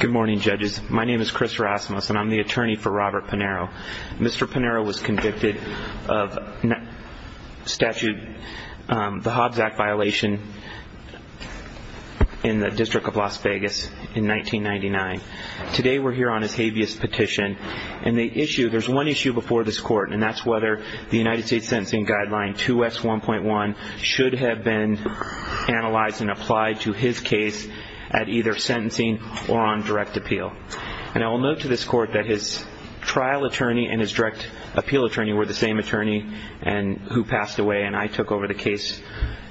Good morning, judges. My name is Chris Rasmus and I'm the attorney for Robert Panaro. Mr. Panaro was convicted of statute, the Hobbs Act violation in the District of Las Vegas in 1999. Today we're here on his habeas petition and the issue, there's one issue before this court and that's whether the United States sentencing guideline 2S1.1 should have been analyzed and applied to his case at either sentencing or on direct appeal. And I will note to this court that his trial attorney and his direct appeal attorney were the same attorney who passed away and I took over the case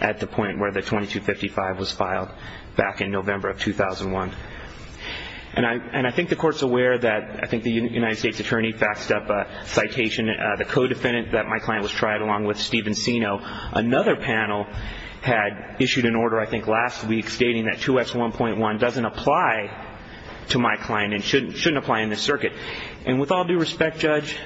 at the point where the 2255 was filed back in November of 2001. And I think the court's aware that, I think the United States attorney faxed up a citation, the co-defendant that my client was tried along with Stephen Seno. Another panel had issued an order I think last week stating that 2S1.1 doesn't apply to my client and shouldn't apply in this circuit. And with all due respect, Judge,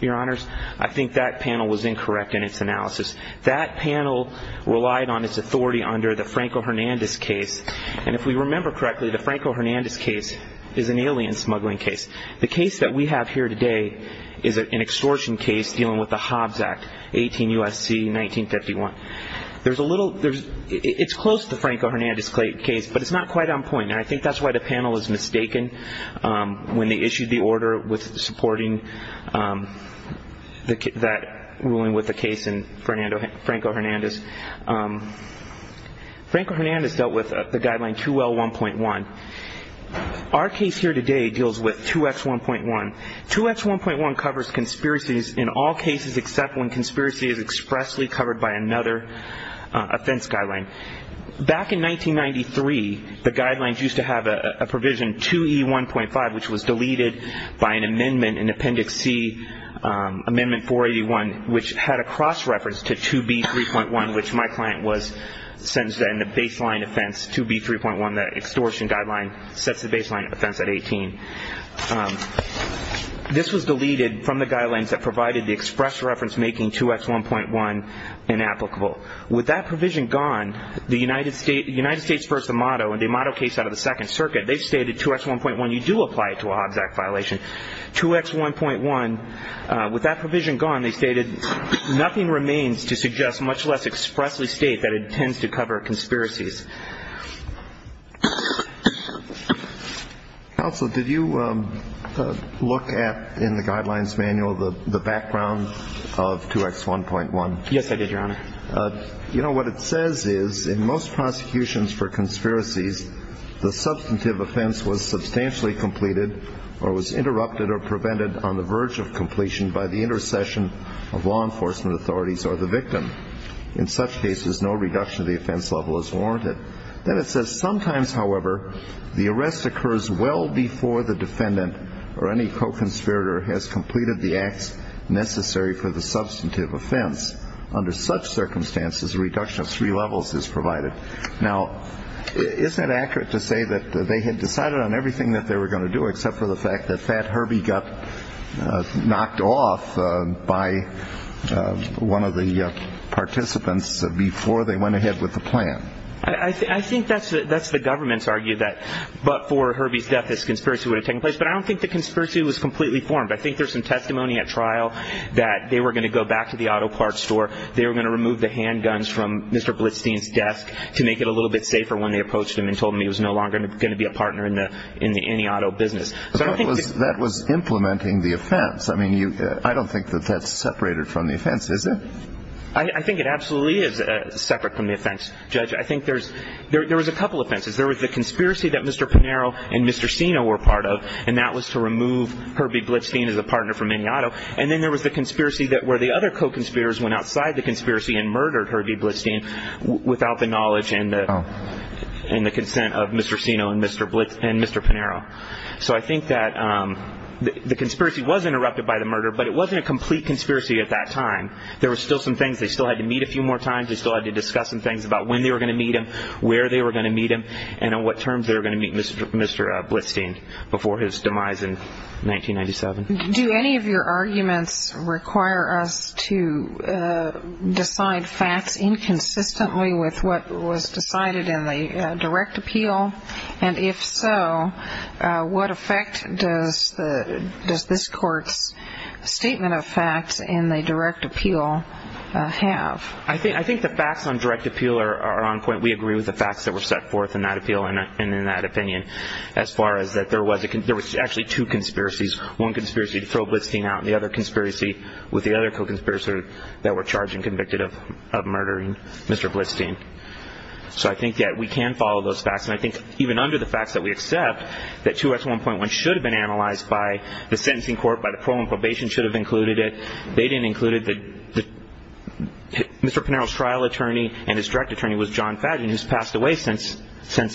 your honors, I think that panel was incorrect in its analysis. That panel relied on its authority under the Franco-Hernandez case and if we remember correctly, the Franco-Hernandez case is an alien smuggling case. The case that we have here today is an extortion case dealing with the Hobbs Act, 18 U.S.C., 1951. There's a little, it's close to the Franco-Hernandez case but it's not quite on point and I think that's why the panel is mistaken when they issued the order with supporting that ruling with the case in Franco-Hernandez. Franco-Hernandez dealt with the guideline 2L1.1. Our case here today deals with 2S1.1. 2S1.1 covers conspiracies in all cases except when conspiracy is expressly covered by another offense guideline. Back in 1993, the guidelines used to have a provision 2E1.5 which was deleted by an amendment in Appendix C, Amendment 481, which had a cross-reference to 2B3.1 which my client was sentenced to in the baseline offense 2B3.1, the extortion guideline sets the baseline offense at 18. This was deleted from the guidelines that provided the express reference making 2S1.1 inapplicable. With that provision gone, the United States v. Amato and the Amato case out of the Second Circuit, they stated 2S1.1, you do apply it to a Hobbs Act violation. 2X1.1, with that provision gone, they stated nothing remains to suggest much less expressly state that it tends to cover conspiracies. Counsel, did you look at in the guidelines manual the background of 2X1.1? Yes, I did, Your Honor. You know, what it says is in most prosecutions for conspiracies, the substantive offense was substantially completed or was interrupted or prevented on the verge of completion by the intercession of law enforcement authorities or the victim. In such cases, no reduction of the offense level is warranted. Then it says sometimes, however, the arrest occurs well before the defendant or any co-conspirator has completed the acts necessary for the substantive offense. Under such circumstances, a reduction of three levels is provided. Now, is that accurate to say that they had decided on everything that they were going to do except for the fact that that Herbie got knocked off by one of the participants before they went ahead with the plan? I think that's the government's argument that but for Herbie's death, this conspiracy would have taken place. But I don't think the conspiracy was completely formed. I think there's some testimony at trial that they were going to go back to the auto parts store, they were going to remove the handguns from Mr. Blitzstein's desk to make it a little bit safer when they approached him and told him he was no longer going to be a partner in the any auto business. That was implementing the offense. I mean, I don't think that that's separated from the offense, is it? I think it absolutely is separate from the offense, Judge. I think there was a couple offenses. There was the conspiracy that Mr. Pinero and Mr. Sino were part of, and that was to remove Herbie Blitzstein as a partner for any auto. And then there was the conspiracy where the other co-conspirators went outside the conspiracy and murdered Herbie Blitzstein without the knowledge and the consent of Mr. Sino and Mr. Pinero. So I think that the conspiracy was interrupted by the murder, but it wasn't a complete conspiracy at that time. There were still some things they still had to meet a few more times. They still had to discuss some things about when they were going to meet him, where they were going to meet him, and on what terms they were going to meet Mr. Blitzstein before his demise in 1997. Do any of your arguments require us to decide facts inconsistently with what was decided in the direct appeal? And if so, what effect does this Court's statement of facts in the direct appeal have? I think the facts on direct appeal are on point. We agree with the facts that were set forth in that appeal and in that opinion as far as that there was actually two conspiracies. One conspiracy to throw Blitzstein out and the other conspiracy with the other co-conspirator that were charged and convicted of murdering Mr. Blitzstein. So I think that we can follow those facts. And I think even under the facts that we accept that 2S1.1 should have been analyzed by the sentencing court, by the parole and probation should have included it. They didn't include it. Mr. Pinero's trial attorney and his direct attorney was John Fadgen, who's passed away since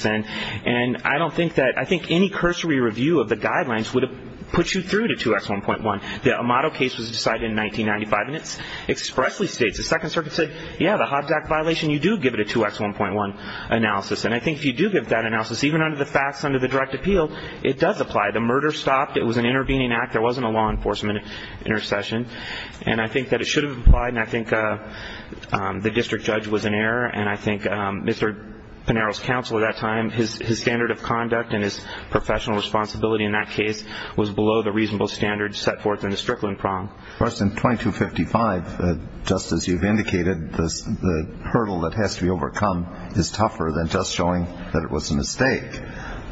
then. And I don't think that any cursory review of the guidelines would have put you through to 2S1.1. The Amato case was decided in 1995, and it expressly states, the Second Circuit said, yeah, the Hobjack violation, you do give it a 2S1.1 analysis. And I think if you do give that analysis, even under the facts under the direct appeal, it does apply. The murder stopped. It was an intervening act. There wasn't a law enforcement intercession. And I think that it should have applied, and I think the district judge was in error. And I think Mr. Pinero's counsel at that time, his standard of conduct and his professional responsibility in that case was below the reasonable standards set forth in the Strickland prong. Of course, in 2255, just as you've indicated, the hurdle that has to be overcome is tougher than just showing that it was a mistake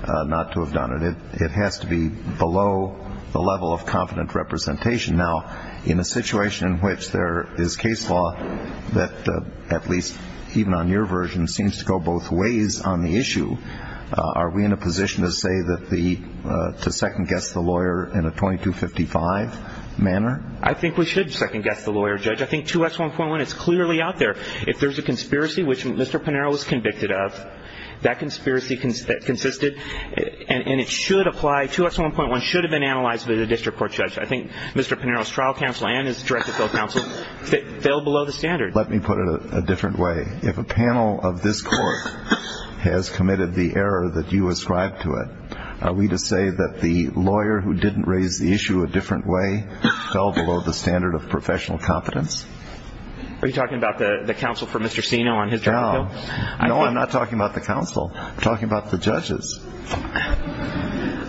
not to have done it. It has to be below the level of confident representation. Now, in a situation in which there is case law that, at least even on your version, seems to go both ways on the issue, are we in a position to say that the second-guess the lawyer in a 2255 manner? I think we should second-guess the lawyer, Judge. I think 2S1.1 is clearly out there. If there's a conspiracy, which Mr. Pinero was convicted of, that conspiracy consisted, and it should apply, 2S1.1 should have been analyzed by the district court judge. I think Mr. Pinero's trial counsel and his direct appeal counsel fell below the standard. Let me put it a different way. If a panel of this court has committed the error that you ascribe to it, are we to say that the lawyer who didn't raise the issue a different way fell below the standard of professional competence? Are you talking about the counsel for Mr. Sino on his trial appeal? No, I'm not talking about the counsel. I'm talking about the judges.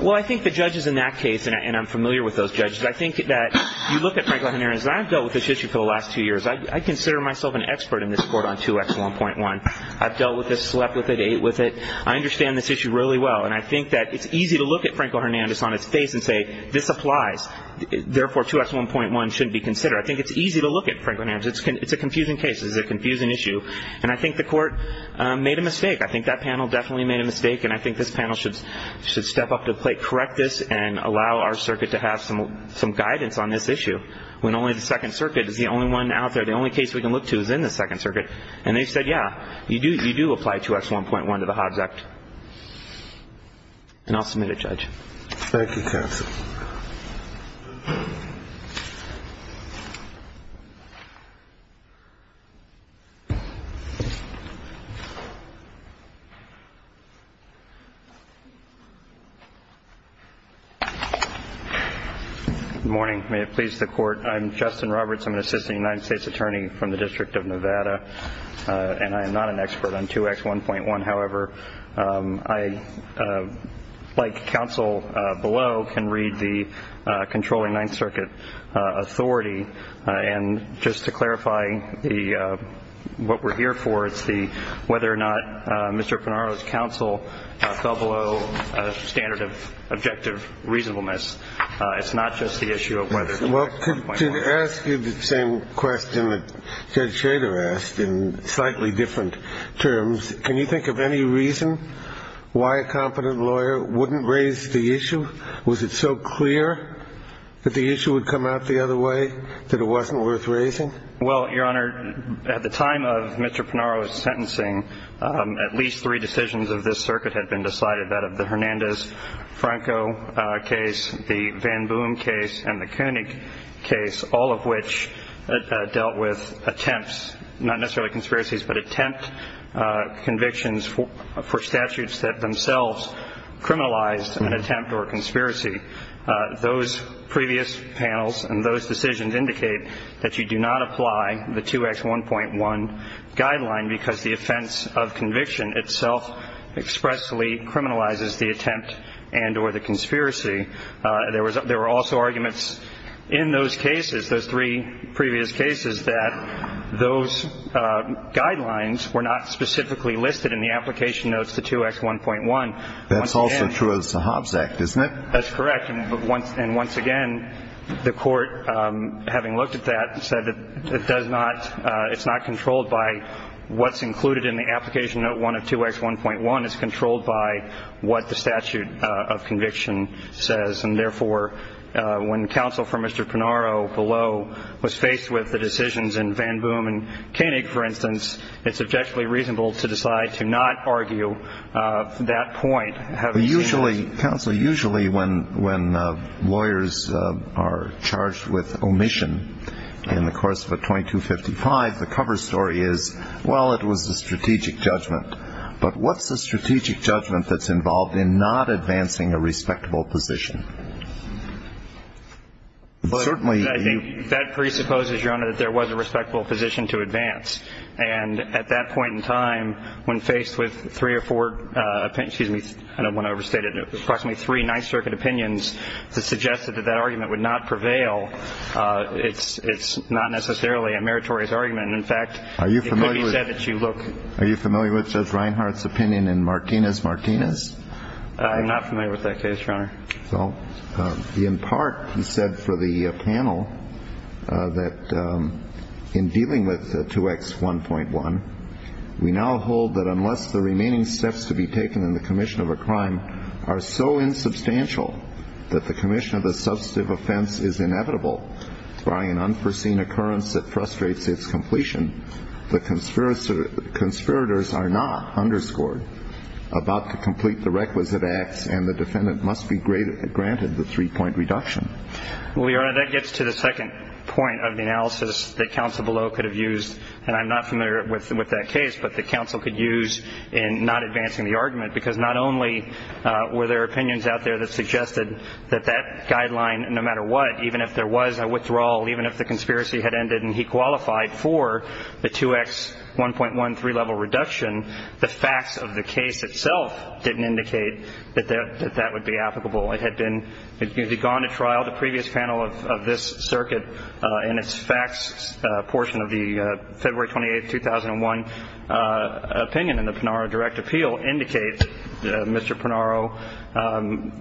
Well, I think the judges in that case, and I'm familiar with those judges, I think that you look at Franco-Hernandez. I've dealt with this issue for the last two years. I consider myself an expert in this court on 2S1.1. I've dealt with it, slept with it, ate with it. I understand this issue really well, and I think that it's easy to look at Franco-Hernandez on his face and say this applies. Therefore, 2S1.1 shouldn't be considered. I think it's easy to look at Franco-Hernandez. It's a confusing case. It's a confusing issue, and I think the court made a mistake. I think that panel definitely made a mistake, and I think this panel should step up to the plate, correct this, and allow our circuit to have some guidance on this issue. When only the Second Circuit is the only one out there, the only case we can look to is in the Second Circuit. And they said, yeah, you do apply 2S1.1 to the Hobbs Act. Thank you, counsel. Good morning. May it please the Court. I'm Justin Roberts. I'm an assistant United States attorney from the District of Nevada, and I am not an expert on 2S1.1. However, I, like counsel below, can read the controlling Ninth Circuit authority. And just to clarify what we're here for, it's whether or not Mr. Pinaro's counsel fell below a standard of objective reasonableness. It's not just the issue of whether it's 2S1.1. Well, to ask you the same question that Judge Schrader asked in slightly different terms, can you think of any reason why a competent lawyer wouldn't raise the issue? Was it so clear that the issue would come out the other way that it wasn't worth raising? Well, Your Honor, at the time of Mr. Pinaro's sentencing, at least three decisions of this circuit had been decided, that of the Hernandez-Franco case, the Van Boom case, and the Koenig case, all of which dealt with attempts, not necessarily conspiracies, but attempt convictions for statutes that themselves criminalized an attempt or conspiracy. Those previous panels and those decisions indicate that you do not apply the 2S1.1 guideline because the offense of conviction itself expressly criminalizes the attempt and or the conspiracy. There were also arguments in those cases, those three previous cases, that those guidelines were not specifically listed in the application notes to 2S1.1. That's also true of the Hobbs Act, isn't it? That's correct. And once again, the Court, having looked at that, said that it's not controlled by what's included in the application note 1 of 2S1.1. It's controlled by what the statute of conviction says. And therefore, when counsel for Mr. Pinaro below was faced with the decisions in Van Boom and Koenig, for instance, it's objectively reasonable to decide to not argue that point. Usually, counsel, usually when lawyers are charged with omission in the course of a 2255, the cover story is, well, it was a strategic judgment. But what's the strategic judgment that's involved in not advancing a respectable position? That presupposes, Your Honor, that there was a respectable position to advance. And at that point in time, when faced with three or four, excuse me, I don't want to overstate it, approximately three Ninth Circuit opinions that suggested that that argument would not prevail, it's not necessarily a meritorious argument. In fact, it could be said that you look. Are you familiar with Judge Reinhart's opinion in Martinez-Martinez? I'm not familiar with that case, Your Honor. So in part, he said for the panel that in dealing with 2X1.1, we now hold that unless the remaining steps to be taken in the commission of a crime are so insubstantial that the commission of a substantive offense is inevitable by an unforeseen occurrence that frustrates its completion, the conspirators are not, underscored, about to complete the requisite acts and the defendant must be granted the three-point reduction. Well, Your Honor, that gets to the second point of the analysis that counsel below could have used, and I'm not familiar with that case, but that counsel could use in not advancing the argument, because not only were there opinions out there that suggested that that guideline, no matter what, even if there was a withdrawal, even if the conspiracy had ended and he qualified for the 2X1.1 three-level reduction, the facts of the case itself didn't indicate that that would be applicable. It had been gone to trial. The previous panel of this circuit in its facts portion of the February 28, 2001, opinion in the Pinaro direct appeal indicates, Mr. Pinaro,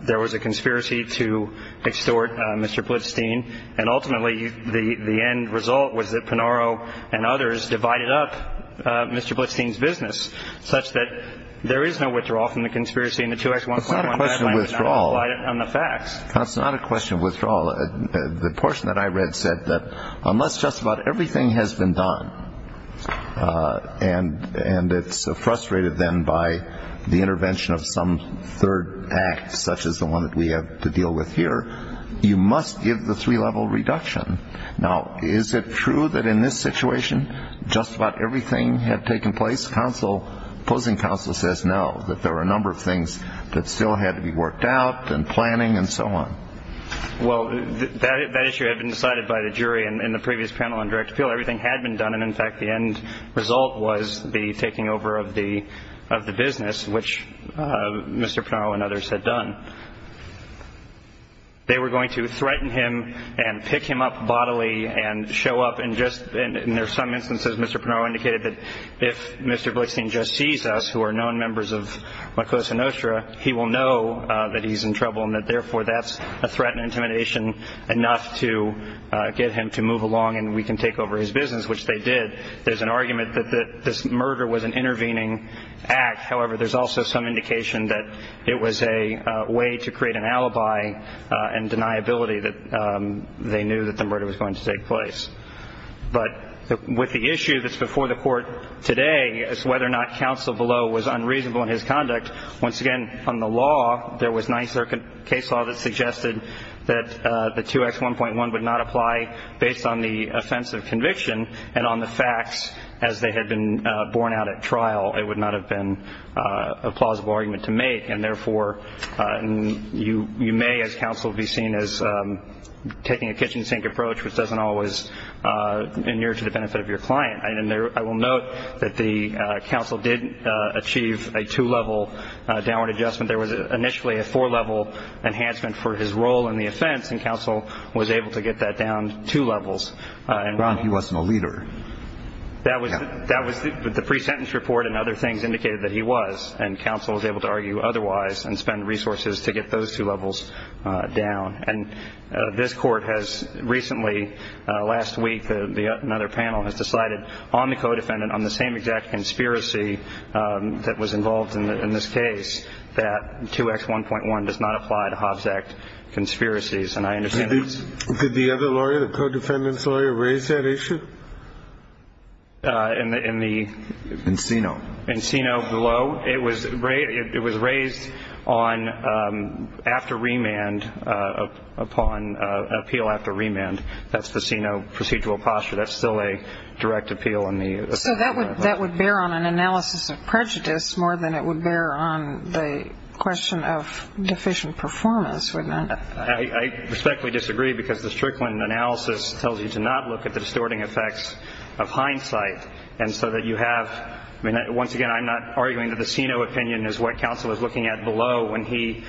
there was a conspiracy to extort Mr. Blitzstein, and ultimately the end result was that Pinaro and others divided up Mr. Blitzstein's business, such that there is no withdrawal from the conspiracy in the 2X1.1 guideline. It's not a question of withdrawal. On the facts. It's not a question of withdrawal. The portion that I read said that unless just about everything has been done and it's frustrated then by the intervention of some third act, such as the one that we have to deal with here, you must give the three-level reduction. Now, is it true that in this situation just about everything had taken place? Counsel, opposing counsel says no, that there were a number of things that still had to be worked out and planning and so on. Well, that issue had been decided by the jury in the previous panel on direct appeal. Everything had been done, and in fact the end result was the taking over of the business, which Mr. Pinaro and others had done. They were going to threaten him and pick him up bodily and show up and just, in some instances, Mr. Pinaro indicated that if Mr. Blitzstein just sees us, who are known members of MACOSA-NOSTRA, he will know that he's in trouble and that therefore that's a threat and intimidation enough to get him to move along and we can take over his business, which they did. There's an argument that this murder was an intervening act. However, there's also some indication that it was a way to create an alibi and deniability that they knew that the murder was going to take place. But with the issue that's before the Court today, it's whether or not counsel below was unreasonable in his conduct. Once again, on the law, there was Ninth Circuit case law that suggested that the 2X1.1 would not apply based on the offense of conviction and on the facts as they had been borne out at trial. It would not have been a plausible argument to make, and therefore you may, as counsel, be seen as taking a kitchen sink approach, which doesn't always adhere to the benefit of your client. And I will note that the counsel did achieve a two-level downward adjustment. There was initially a four-level enhancement for his role in the offense, and counsel was able to get that down two levels. Ron, he wasn't a leader. That was the pre-sentence report and other things indicated that he was, and counsel was able to argue otherwise and spend resources to get those two levels down. And this Court has recently, last week, another panel has decided on the co-defendant, on the same exact conspiracy that was involved in this case, that 2X1.1 does not apply to Hobbs Act conspiracies. And I understand this. Did the other lawyer, the co-defendant's lawyer, raise that issue? In the... In CINO. In CINO below, it was raised on after remand, upon appeal after remand. That's the CINO procedural posture. That's still a direct appeal in the... So that would bear on an analysis of prejudice more than it would bear on the question of deficient performance, wouldn't it? I respectfully disagree because the Strickland analysis tells you to not look at the distorting effects of hindsight. And so that you have, I mean, once again, I'm not arguing that the CINO opinion is what counsel is looking at below when he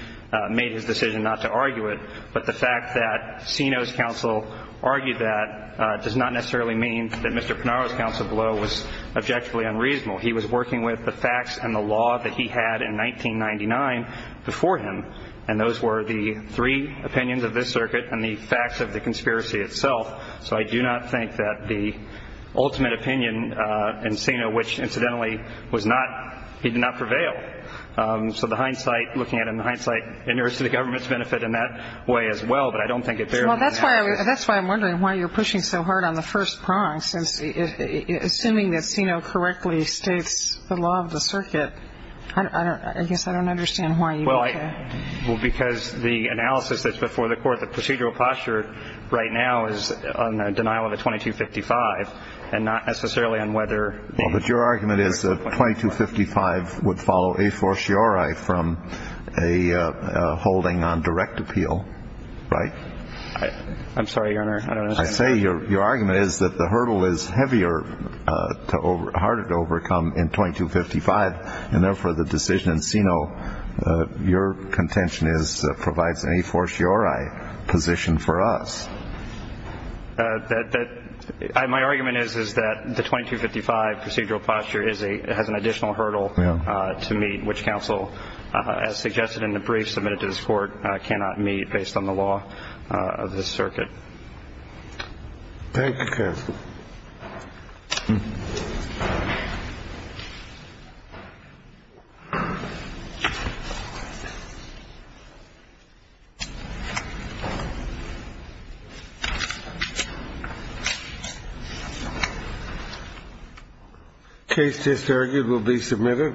made his decision not to argue it. But the fact that CINO's counsel argued that does not necessarily mean that Mr. Pinaro's counsel below was objectively unreasonable. He was working with the facts and the law that he had in 1999 before him, and those were the three opinions of this circuit and the facts of the conspiracy itself. So I do not think that the ultimate opinion in CINO, which incidentally was not, he did not prevail. So the hindsight, looking at it in hindsight, it nears to the government's benefit in that way as well, but I don't think it bears... Well, that's why I'm wondering why you're pushing so hard on the first prong, since assuming that CINO correctly states the law of the circuit, I guess I don't understand why you would... Well, because the analysis that's before the court, the procedural posture right now is on the denial of a 2255, and not necessarily on whether... Well, but your argument is that 2255 would follow a fortiori from a holding on direct appeal, right? I'm sorry, Your Honor, I don't understand. I say your argument is that the hurdle is heavier, harder to overcome in 2255, and therefore the decision in CINO, your contention is, provides any fortiori position for us. My argument is that the 2255 procedural posture has an additional hurdle to meet, which counsel, as suggested in the brief submitted to this court, cannot meet based on the law of the circuit. Thank you, counsel. Case just argued will be submitted.